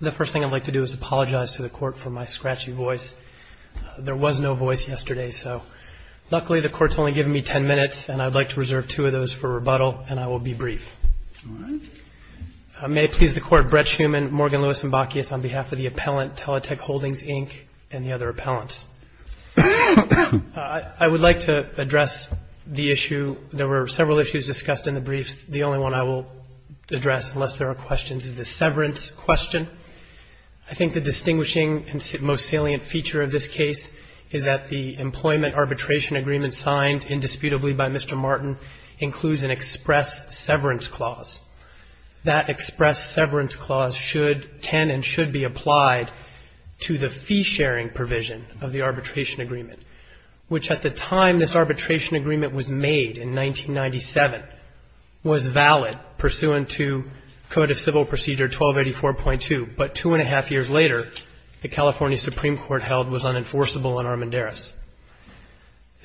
The first thing I'd like to do is apologize to the Court for my scratchy voice. There was no voice yesterday, so luckily the Court's only given me ten minutes, and I'd like to reserve two of those for rebuttal, and I will be brief. All right. May it please the Court, Brett Schuman, Morgan Lewis, and Bacchius, on behalf of the appellant, Teletech Holdings, Inc., and the other appellants. I would like to address the issue. There were several issues discussed in the brief. The only one I will address, unless there are questions, is the severance question. I think the distinguishing and most salient feature of this case is that the employment arbitration agreement signed indisputably by Mr. Martin includes an express severance clause. That express severance clause can and should be applied to the fee-sharing provision of the arbitration agreement, which at the time this arbitration agreement was made, in 1997, was valid pursuant to Code of Civil Procedure 1284.2. But two and a half years later, the California Supreme Court held it was unenforceable in Armendariz.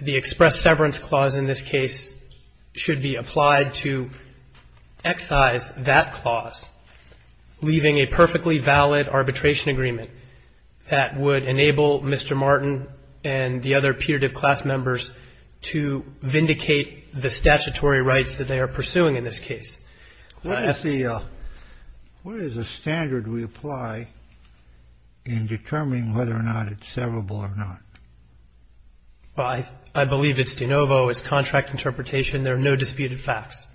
The express severance clause in this case should be applied to excise that clause, leaving a perfectly valid arbitration agreement that would enable Mr. Martin and the other putative class members to vindicate the statutory rights that they are pursuing in this case. What is the standard we apply in determining whether or not it's severable or not? Well, I believe it's de novo. It's contract interpretation. There are no disputed facts.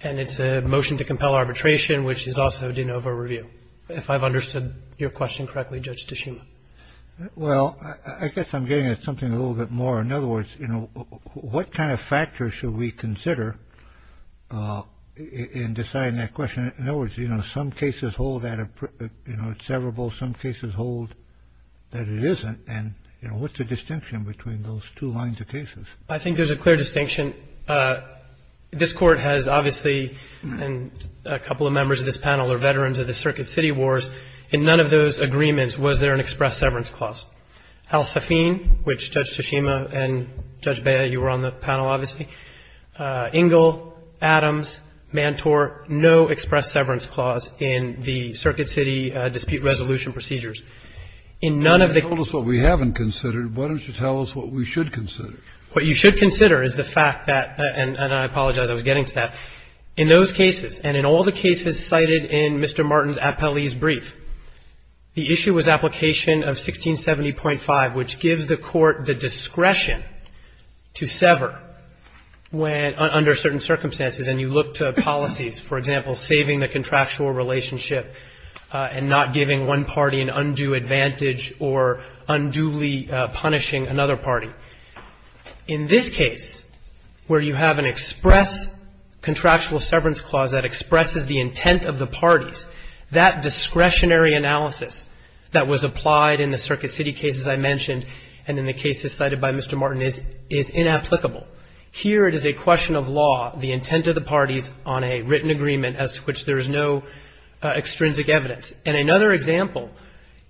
And it's a motion to compel arbitration, which is also de novo review. If I've understood your question correctly, Judge Tashima. Well, I guess I'm getting at something a little bit more. In other words, you know, what kind of factors should we consider in deciding that question? In other words, you know, some cases hold that it's severable. Some cases hold that it isn't. And, you know, what's the distinction between those two lines of cases? I think there's a clear distinction. This Court has obviously, and a couple of members of this panel are veterans of the Circuit City Wars, in none of those agreements was there an express severance clause. Al-Safin, which Judge Tashima and Judge Bea, you were on the panel, obviously. Ingle, Adams, Mantore, no express severance clause in the Circuit City dispute resolution procedures. In none of the cases we have considered, why don't you tell us what we should consider? What you should consider is the fact that, and I apologize, I was getting to that, in those cases and in all the cases cited in Mr. Martin's appellee's brief, the issue was application of 1670.5, which gives the Court the discretion to sever when, under certain circumstances, and you look to policies, for example, saving the contractual relationship and not giving one party an undue advantage or unduly punishing another party. In this case, where you have an express contractual severance clause that expresses the intent of the parties, that discretionary analysis that was applied in the Circuit City cases I mentioned and in the cases cited by Mr. Martin is inapplicable. Here it is a question of law, the intent of the parties on a written agreement as to which there is no extrinsic evidence. And another example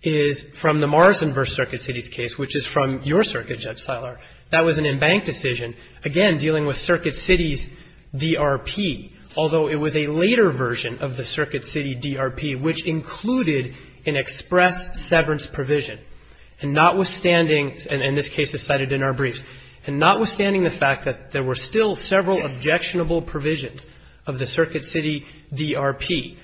is from the Morrison v. Circuit City's case, which is from your Circuit, Judge Siler, that was an embanked decision, again, dealing with Circuit City's DRP, although it was a later version of the Circuit City DRP, which included an express severance provision, and notwithstanding, and this case is cited in our briefs, and notwithstanding the fact that there were still several objectionable provisions of the Circuit City DRP,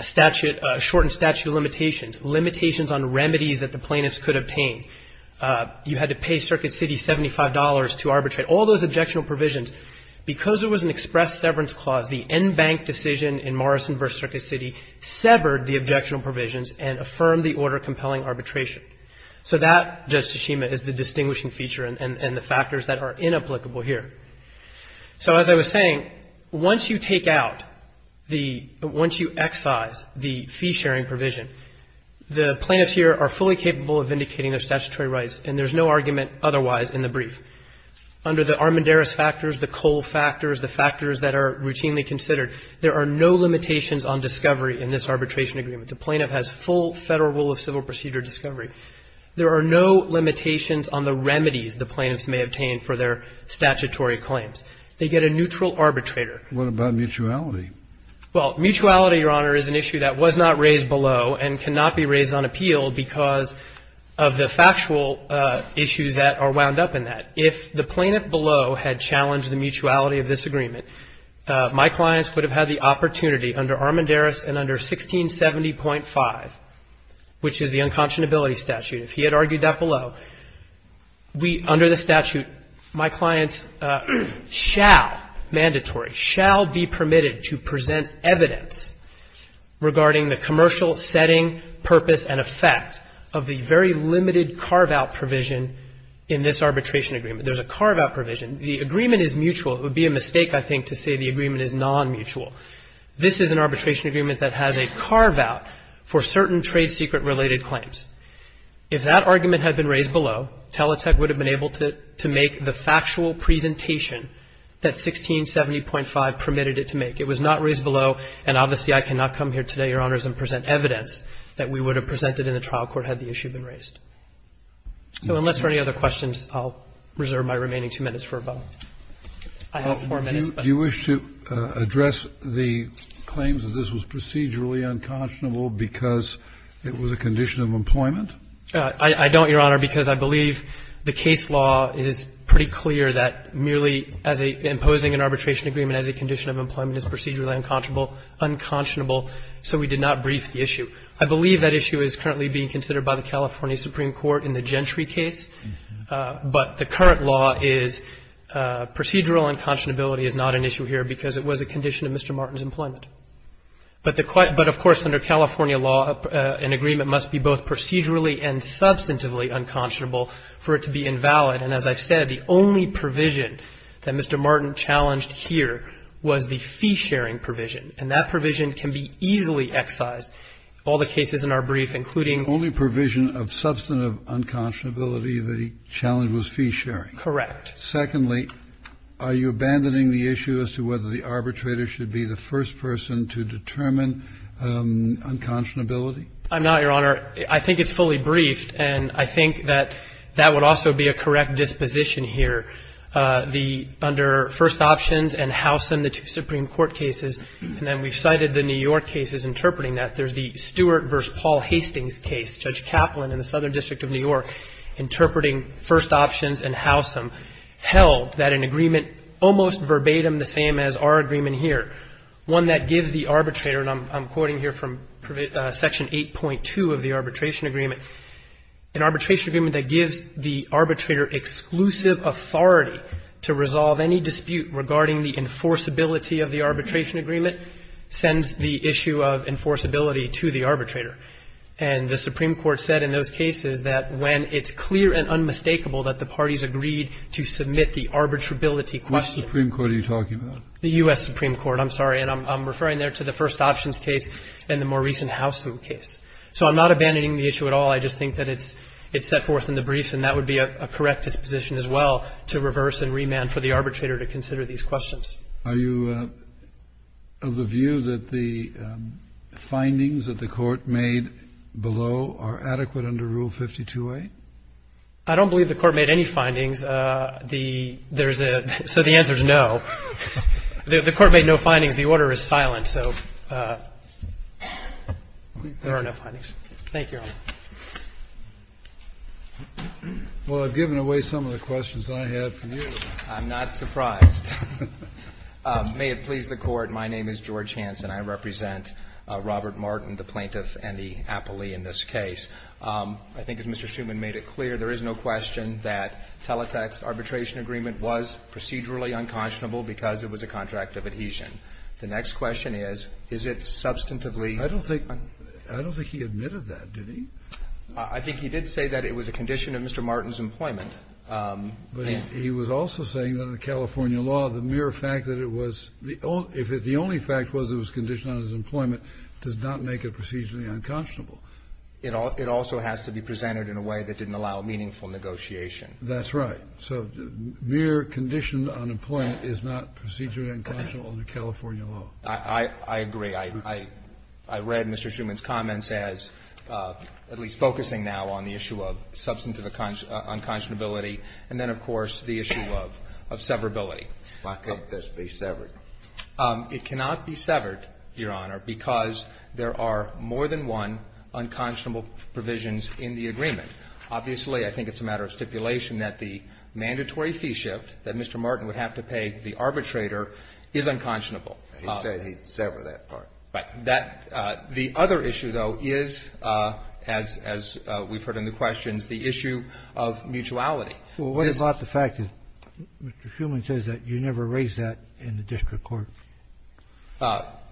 statute, shortened statute of limitations, limitations on remedies that the plaintiffs could obtain. You had to pay Circuit City $75 to arbitrate. All those objectionable provisions, because there was an express severance clause, the embanked decision in Morrison v. Circuit City severed the objectionable provisions and affirmed the order of compelling arbitration. So that, Judge Tshishima, is the distinguishing feature and the factors that are inapplicable here. So as I was saying, once you take out the — once you excise the fee-sharing provision, the plaintiffs here are fully capable of vindicating their statutory rights, and there's no argument otherwise in the brief. Under the Armendariz factors, the Cole factors, the factors that are routinely considered, there are no limitations on discovery in this arbitration agreement. The plaintiff has full Federal rule of civil procedure discovery. There are no limitations on the remedies the plaintiffs may obtain for their statutory claims. They get a neutral arbitrator. Kennedy. What about mutuality? Well, mutuality, Your Honor, is an issue that was not raised below and cannot be raised on appeal because of the factual issues that are wound up in that. If the plaintiff below had challenged the mutuality of this agreement, my clients would have had the opportunity under Armendariz and under 1670.5, which is the unconscionability statute, if he had argued that below, we, under the statute, my clients shall, shall be permitted to present evidence regarding the commercial setting, purpose and effect of the very limited carve-out provision in this arbitration agreement. There's a carve-out provision. The agreement is mutual. It would be a mistake, I think, to say the agreement is nonmutual. This is an arbitration agreement that has a carve-out for certain trade secret related claims. If that argument had been raised below, Teleteq would have been able to make the factual presentation that 1670.5 permitted it to make. It was not raised below. And obviously, I cannot come here today, Your Honors, and present evidence that we would have presented in the trial court had the issue been raised. So unless there are any other questions, I'll reserve my remaining two minutes for a vote. I have four minutes. Do you wish to address the claims that this was procedurally unconscionable because it was a condition of employment? I don't, Your Honor, because I believe the case law is pretty clear that merely as imposing an arbitration agreement as a condition of employment is procedurally unconscionable, so we did not brief the issue. I believe that issue is currently being considered by the California Supreme Court in the Gentry case, but the current law is procedural unconscionability is not an issue here because it was a condition of Mr. Martin's employment. But of course, under California law, an agreement must be both procedurally and substantively unconscionable for it to be invalid. And as I've said, the only provision that Mr. Martin challenged here was the fee-sharing provision, and that provision can be easily excised. All the cases in our brief, including the only provision of substantive unconscionability, the challenge was fee-sharing. Correct. Secondly, are you abandoning the issue as to whether the arbitrator should be the first person to determine unconscionability? I'm not, Your Honor. I think it's fully briefed, and I think that that would also be a correct disposition here. The under First Options and Howsam, the two Supreme Court cases, and then we've cited the New York cases interpreting that. There's the Stewart v. Paul Hastings case, Judge Kaplan in the Southern District of New York interpreting First Options and Howsam held that an agreement almost verbatim the same as our agreement here, one that gives the arbitrator, and I'm quoting here from Section 8.2 of the Arbitration Agreement, an arbitration agreement that gives the arbitrator exclusive authority to resolve any dispute regarding the enforceability of the arbitration agreement sends the issue of enforceability to the arbitrator. And the Supreme Court said in those cases that when it's clear and unmistakable that the parties agreed to submit the arbitrability question. Which Supreme Court are you talking about? The U.S. Supreme Court. I'm sorry. And I'm referring there to the First Options case and the more recent Howsam case. So I'm not abandoning the issue at all. I just think that it's set forth in the brief, and that would be a correct disposition as well to reverse and remand for the arbitrator to consider these questions. Are you of the view that the findings that the Court made below are adequate under Rule 52a? I don't believe the Court made any findings. There's a – so the answer is no. The Court made no findings. The order is silent. So there are no findings. Thank you, Your Honor. Well, I've given away some of the questions I have for you. I'm not surprised. May it please the Court, my name is George Hanson. I represent Robert Martin, the plaintiff, and the appellee in this case. I think, as Mr. Schuman made it clear, there is no question that Teletext's arbitration agreement was procedurally unconscionable because it was a contract of adhesion. The next question is, is it substantively unconscionable? I don't think he admitted that, did he? I think he did say that it was a condition of Mr. Martin's employment. But he was also saying that in the California law, the mere fact that it was – if the only fact was it was conditioned on his employment does not make it procedurally unconscionable. It also has to be presented in a way that didn't allow meaningful negotiation. That's right. So mere condition on employment is not procedurally unconscionable under California law. I agree. I read Mr. Schuman's comments as at least focusing now on the issue of substantive unconscionability and then, of course, the issue of severability. Why can't this be severed? It cannot be severed, Your Honor, because there are more than one unconscionable provisions in the agreement. Obviously, I think it's a matter of stipulation that the mandatory fee shift that Mr. Martin would have to pay the arbitrator is unconscionable. He said he'd sever that part. Right. That – the other issue, though, is, as we've heard in the questions, the issue of mutuality. Well, what about the fact that Mr. Schuman says that you never raised that in the district court?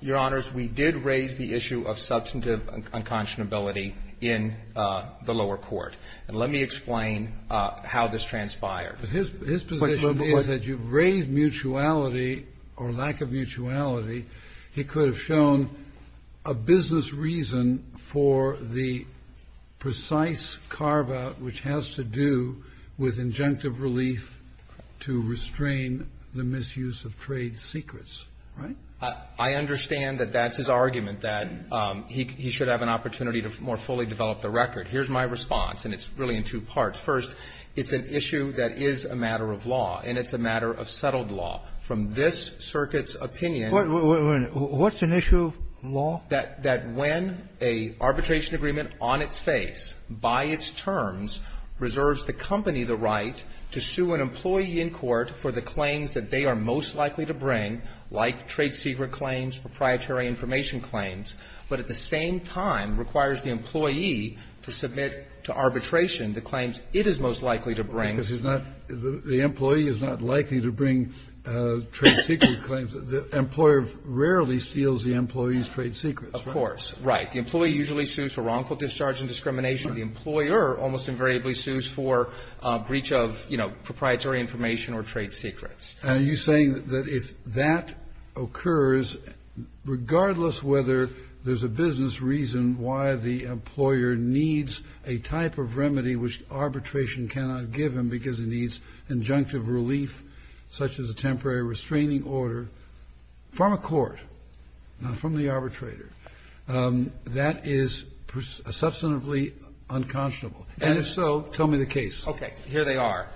Your Honors, we did raise the issue of substantive unconscionability in the lower court, and let me explain how this transpired. His position is that you've raised mutuality or lack of mutuality. He could have shown a business reason for the precise carve-out which has to do with conjunctive relief to restrain the misuse of trade secrets. Right? I understand that that's his argument, that he should have an opportunity to more fully develop the record. Here's my response, and it's really in two parts. First, it's an issue that is a matter of law, and it's a matter of settled law. What's an issue of law? That when an arbitration agreement on its face, by its terms, reserves the company the right to sue an employee in court for the claims that they are most likely to bring, like trade secret claims, proprietary information claims, but at the same time requires the employee to submit to arbitration the claims it is most likely to bring. Because he's not the employee is not likely to bring trade secret claims. The employer rarely steals the employee's trade secrets. Of course. Right. The employee usually sues for wrongful discharge and discrimination. The employer almost invariably sues for breach of, you know, proprietary information or trade secrets. And are you saying that if that occurs, regardless whether there's a business reason why the employer needs a type of remedy which arbitration cannot give him because he needs injunctive relief, such as a temporary restraining order, from a court, not from the arbitrator, that is substantively unconscionable? And if so, tell me the case. Okay. Here they are.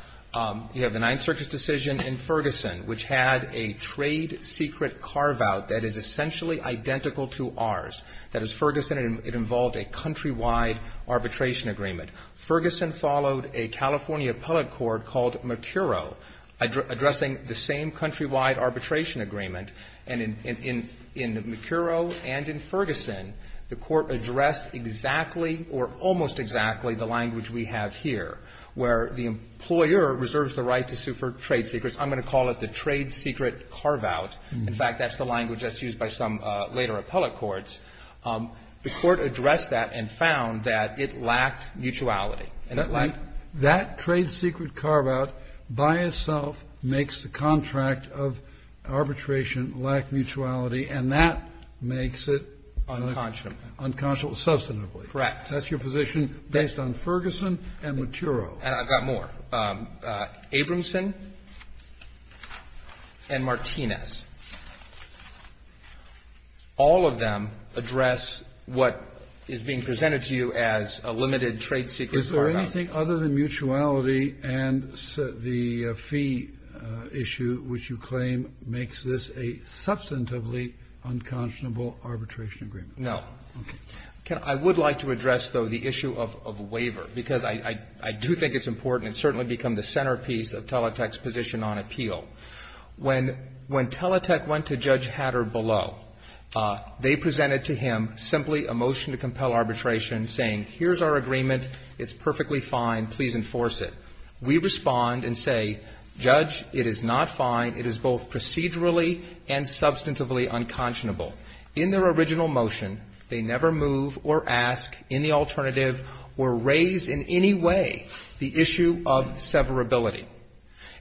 You have the Ninth Circus decision in Ferguson, which had a trade secret carveout that is essentially identical to ours. That is, Ferguson, it involved a countrywide arbitration agreement. Ferguson followed a California appellate court called Mercurio addressing the same countrywide arbitration agreement. And in Mercurio and in Ferguson, the court addressed exactly or almost exactly the language we have here, where the employer reserves the right to sue for trade secrets. I'm going to call it the trade secret carveout. In fact, that's the language that's used by some later appellate courts. The court addressed that and found that it lacked mutuality. Isn't that right? That trade secret carveout by itself makes the contract of arbitration lack mutuality, and that makes it unconscionable. Unconscionable. Substantively. Correct. That's your position based on Ferguson and Mercurio. And I've got more. Abramson and Martinez. All of them address what is being presented to you as a limited trade secret carveout. Is there anything other than mutuality and the fee issue which you claim makes this a substantively unconscionable arbitration agreement? No. Okay. I would like to address, though, the issue of waiver, because I do think it's important and certainly become the centerpiece of Teletext's position on appeal. When Teletext went to Judge Hatter below, they presented to him simply a motion to compel arbitration saying, here's our agreement. It's perfectly fine. Please enforce it. We respond and say, Judge, it is not fine. It is both procedurally and substantively unconscionable. In their original motion, they never move or ask in the alternative or raise in any way the issue of severability.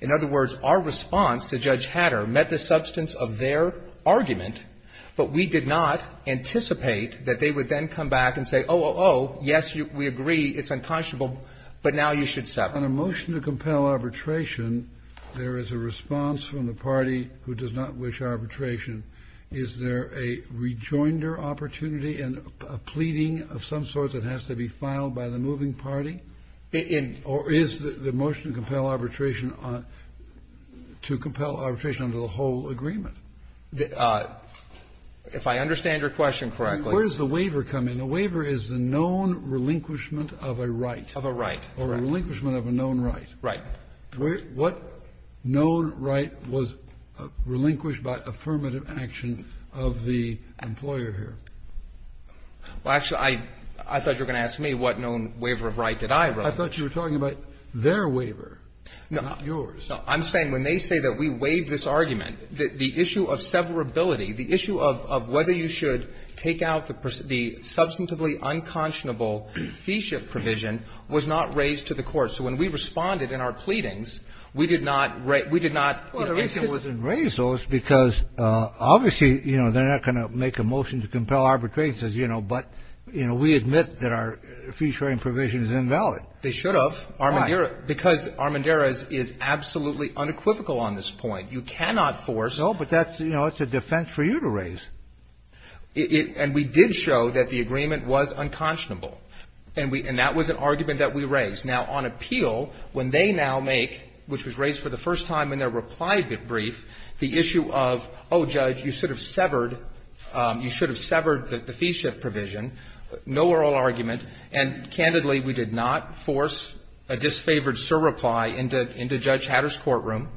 In other words, our response to Judge Hatter met the substance of their argument, but we did not anticipate that they would then come back and say, oh, oh, oh, yes, we agree, it's unconscionable, but now you should sever. On a motion to compel arbitration, there is a response from the party who does not wish arbitration. Is there a rejoinder opportunity and a pleading of some sort that has to be filed by the moving party? Or is the motion to compel arbitration to compel arbitration under the whole agreement? If I understand your question correctly. Where does the waiver come in? The waiver is the known relinquishment of a right. Of a right. Or a relinquishment of a known right. Right. What known right was relinquished by affirmative action of the employer here? Well, actually, I thought you were going to ask me what known waiver of right did I relinquish. I thought you were talking about their waiver, not yours. No. I'm saying when they say that we waived this argument, the issue of severability, the issue of whether you should take out the substantively unconscionable fee shift provision was not raised to the Court. So when we responded in our pleadings, we did not raise those because obviously, you know, they're not going to make a motion to compel arbitration, but, you know, we admit that our fee sharing provision is invalid. They should have. Why? Because Armanderas is absolutely unequivocal on this point. You cannot force. No, but that's a defense for you to raise. And we did show that the agreement was unconscionable. And that was an argument that we raised. Now, on appeal, when they now make, which was raised for the first time in their reply brief, the issue of, oh, Judge, you should have severed, you should have severed the fee shift provision, no oral argument. And candidly, we did not force a disfavored surreply into Judge Hatter's courtroom.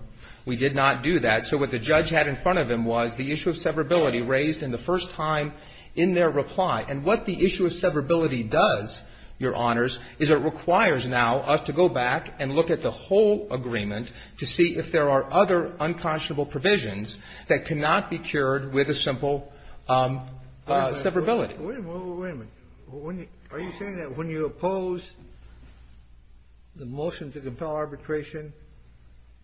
We did not do that. So what the judge had in front of him was the issue of severability raised in the first time in their reply. And what the issue of severability does, Your Honors, is it requires now us to go back and look at the whole agreement to see if there are other unconscionable provisions that cannot be cured with a simple severability. Wait a minute. Wait a minute. Are you saying that when you oppose the motion to compel arbitration,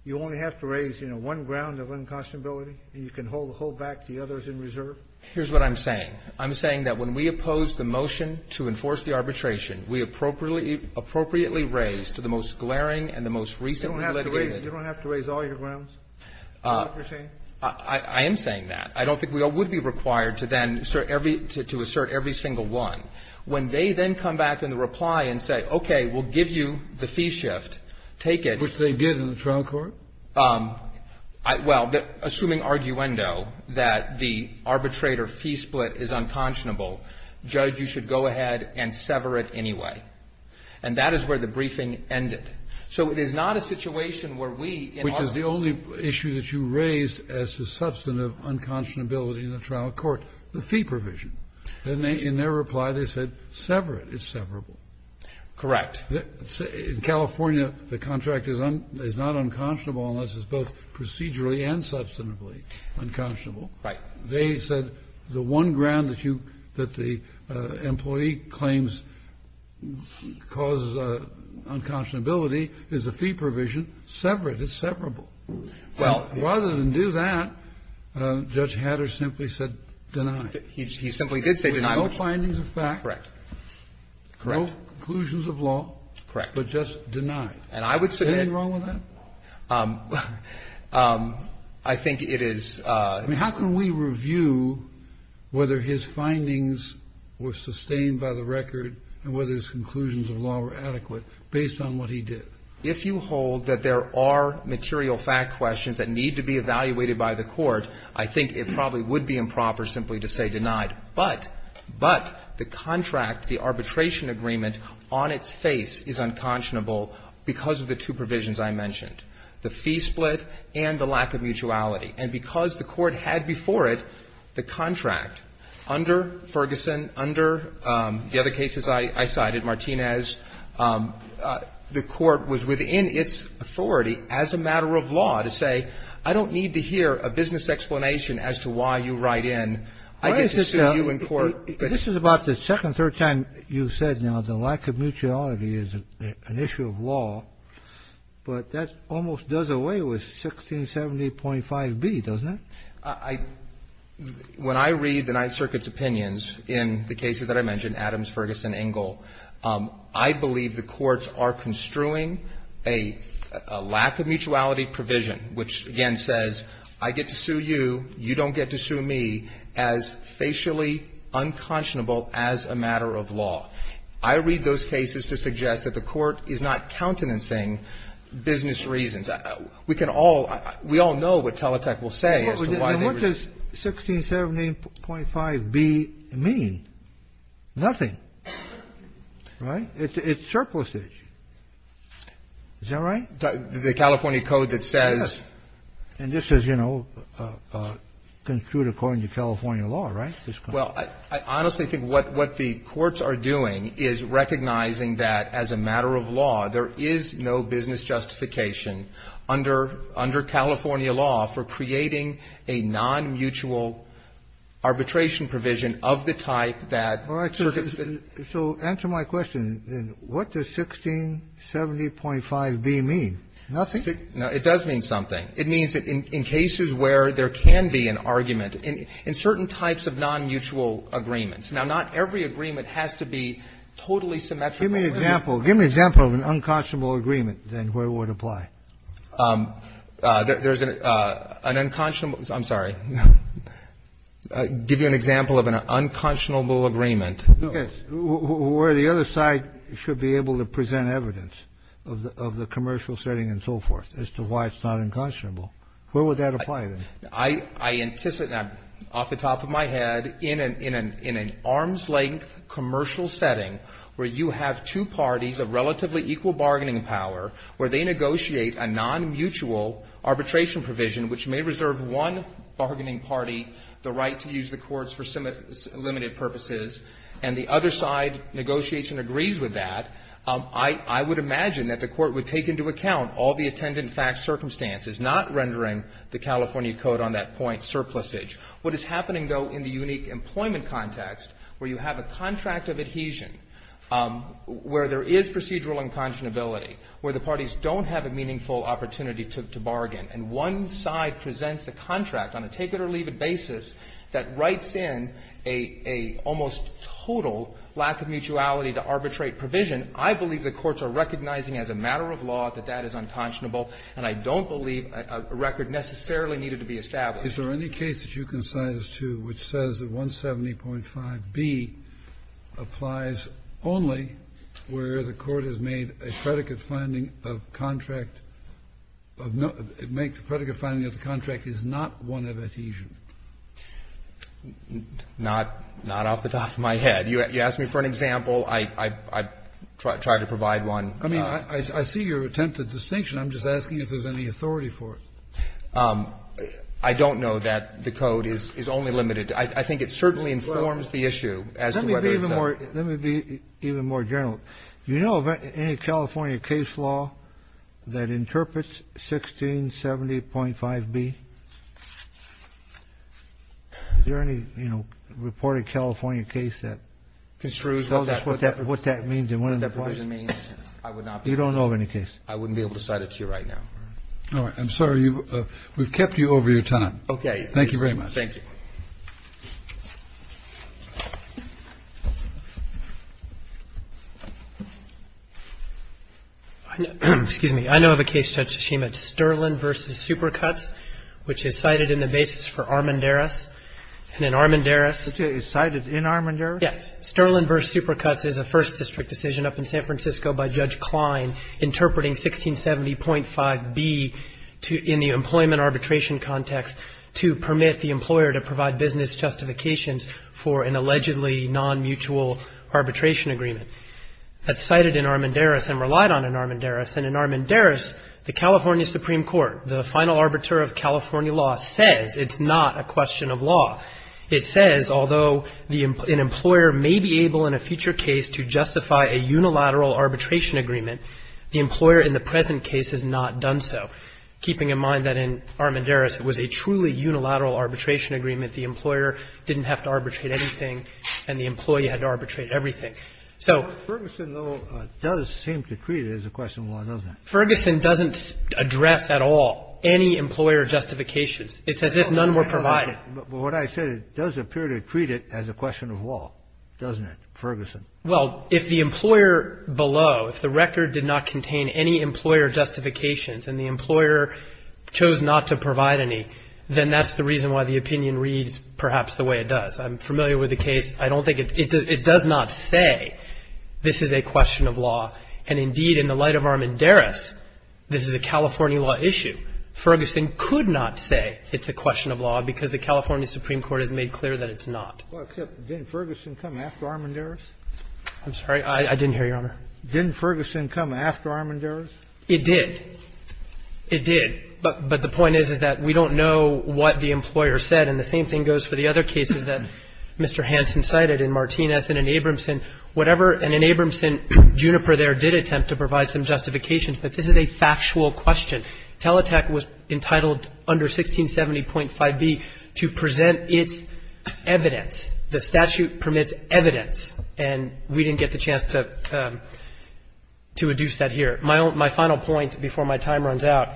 you only have to raise, you know, one ground of unconscionability, and you can hold back the others in reserve? Here's what I'm saying. I'm saying that when we oppose the motion to enforce the arbitration, we appropriately raise to the most glaring and the most recently litigated ---- You don't have to raise all your grounds? Is that what you're saying? I am saying that. I don't think we would be required to then assert every single one. When they then come back in the reply and say, okay, we'll give you the fee shift, take it ---- Which they did in the trial court? Well, assuming arguendo, that the arbitrator fee split is unconscionable, Judge, you should go ahead and sever it anyway. And that is where the briefing ended. So it is not a situation where we in our ---- Which is the only issue that you raised as to substantive unconscionability in the trial court, the fee provision. In their reply, they said sever it. It's severable. Correct. In California, the contract is not unconscionable unless it's both procedurally and substantively unconscionable. Right. They said the one ground that you ---- that the employee claims causes unconscionability is the fee provision. Sever it. It's severable. Well, rather than do that, Judge Hatter simply said deny it. He simply did say deny it. Correct. Correct. No conclusions of law. Correct. But just deny it. And I would submit ---- Anything wrong with that? I think it is ---- I mean, how can we review whether his findings were sustained by the record and whether his conclusions of law were adequate based on what he did? If you hold that there are material fact questions that need to be evaluated by the court, I think it probably would be improper simply to say deny it. But the contract, the arbitration agreement on its face is unconscionable because of the two provisions I mentioned, the fee split and the lack of mutuality. And because the court had before it the contract under Ferguson, under the other cases I cited, Martinez, the court was within its authority as a matter of law to say I don't need to hear a business explanation as to why you write in. I get to sue you in court. This is about the second, third time you've said now the lack of mutuality is an issue of law. But that almost does away with 1670.5b, doesn't it? I ---- when I read the Ninth Circuit's opinions in the cases that I mentioned, Adams, Ferguson, Ingle, I believe the courts are construing a lack of mutuality provision which, again, says I get to sue you, you don't get to sue me as facially unconscionable as a matter of law. I read those cases to suggest that the court is not countenancing business reasons. We can all ---- we all know what Teletec will say as to why they were ---- And what does 1670.5b mean? Nothing. Right? It's surplusage. Is that right? The California Code that says ---- Yes. And this is, you know, construed according to California law, right? Well, I honestly think what the courts are doing is recognizing that, as a matter of law, there is no business justification under California law for creating a nonmutual arbitration provision of the type that ---- So answer my question. What does 1670.5b mean? Nothing. It does mean something. It means that in cases where there can be an argument in certain types of nonmutual agreements. Now, not every agreement has to be totally symmetrical. Give me an example. Give me an example of an unconscionable agreement, then, where it would apply. There's an unconscionable ---- I'm sorry. Give you an example of an unconscionable agreement. Yes. Where the other side should be able to present evidence of the commercial setting and so forth as to why it's not unconscionable. Where would that apply, then? I anticipate, off the top of my head, in an arm's-length commercial setting where you have two parties of relatively equal bargaining power where they negotiate a nonmutual arbitration provision which may reserve one bargaining party the right to use the courts for limited purposes, and the other side negotiates and agrees with that. I would imagine that the court would take into account all the attendant facts circumstances, not rendering the California Code on that point surplusage. What is happening, though, in the unique employment context where you have a contract of adhesion, where there is procedural unconscionability, where the parties don't have a meaningful opportunity to bargain, and one side presents a contract on a take-it-or-leave-it provision, I believe the courts are recognizing as a matter of law that that is unconscionable, and I don't believe a record necessarily needed to be established. Is there any case that you can cite as to which says that 170.5b applies only where the court has made a predicate finding of contract of no – makes a predicate finding of the contract is not one of adhesion? Not off the top of my head. You ask me for an example. I try to provide one. I mean, I see your attempt at distinction. I'm just asking if there's any authority for it. I don't know that the Code is only limited. I think it certainly informs the issue as to whether it's a – Let me be even more general. Do you know of any California case law that interprets 1670.5b? Is there any, you know, reported California case that construes what that means and what it implies? You don't know of any case? I wouldn't be able to cite it to you right now. All right. I'm sorry. We've kept you over your time. Okay. Thank you very much. Thank you. Excuse me. I know of a case, Judge Tsushima, Sterling v. Supercuts, which is cited in the basis for Armendariz. And in Armendariz – It's cited in Armendariz? Yes. Sterling v. Supercuts is a First District decision up in San Francisco by Judge Klein interpreting 1670.5b in the employment arbitration context to permit the employer to provide business justifications for an allegedly non-mutual arbitration agreement. That's cited in Armendariz and relied on in Armendariz. And in Armendariz, the California Supreme Court, the final arbiter of California law, says it's not a question of law. It says although an employer may be able in a future case to justify a unilateral arbitration agreement, the employer in the present case has not done so, keeping in mind that in Armendariz it was a truly unilateral arbitration agreement. The employer didn't have to arbitrate anything, and the employee had to arbitrate everything. So – Ferguson, though, does seem to treat it as a question of law, doesn't it? Ferguson doesn't address at all any employer justifications. It's as if none were provided. But what I said, it does appear to treat it as a question of law, doesn't it, Ferguson? Well, if the employer below, if the record did not contain any employer justifications and the employer chose not to provide any, then that's the reason why the opinion reads perhaps the way it does. I'm familiar with the case. I don't think it's – it does not say this is a question of law. And indeed, in the light of Armendariz, this is a California law issue. Ferguson could not say it's a question of law, because the California Supreme Court has made clear that it's not. Well, except didn't Ferguson come after Armendariz? I'm sorry? I didn't hear you, Your Honor. Didn't Ferguson come after Armendariz? It did. It did. But the point is, is that we don't know what the employer said. And the same thing goes for the other cases that Mr. Hansen cited in Martinez and in Abramson. Whatever – and in Abramson, Juniper there did attempt to provide some justifications. But this is a factual question. Teletec was entitled under 1670.5b to present its evidence. The statute permits evidence. And we didn't get the chance to adduce that here. My final point before my time runs out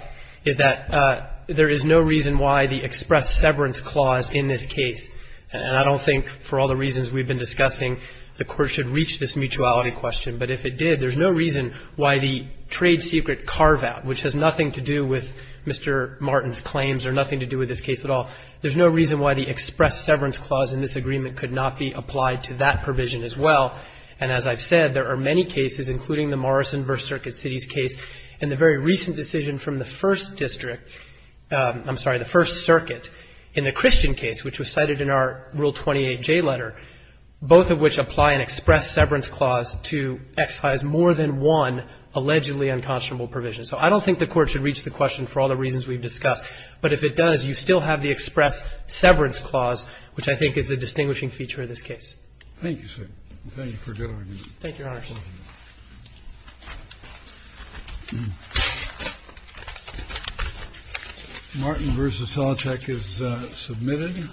is that there is no reason why the express severance clause in this case – and I don't think for all the reasons we've been discussing, the Court should reach this mutuality question. But if it did, there's no reason why the trade secret carve-out, which has nothing to do with Mr. Martin's claims or nothing to do with this case at all, there's no reason why the express severance clause in this agreement could not be applied to that provision as well. And as I've said, there are many cases, including the Morrison v. Circuit Cities case, and the very recent decision from the First District – I'm sorry, the First Circuit in the Christian case, which was cited in our Rule 28J letter, both of which apply an express severance clause to excise more than one allegedly unconscionable provision. So I don't think the Court should reach the question for all the reasons we've discussed. But if it does, you still have the express severance clause, which I think is the Thank you, Your Honor. Martin v. Talachek is submitted.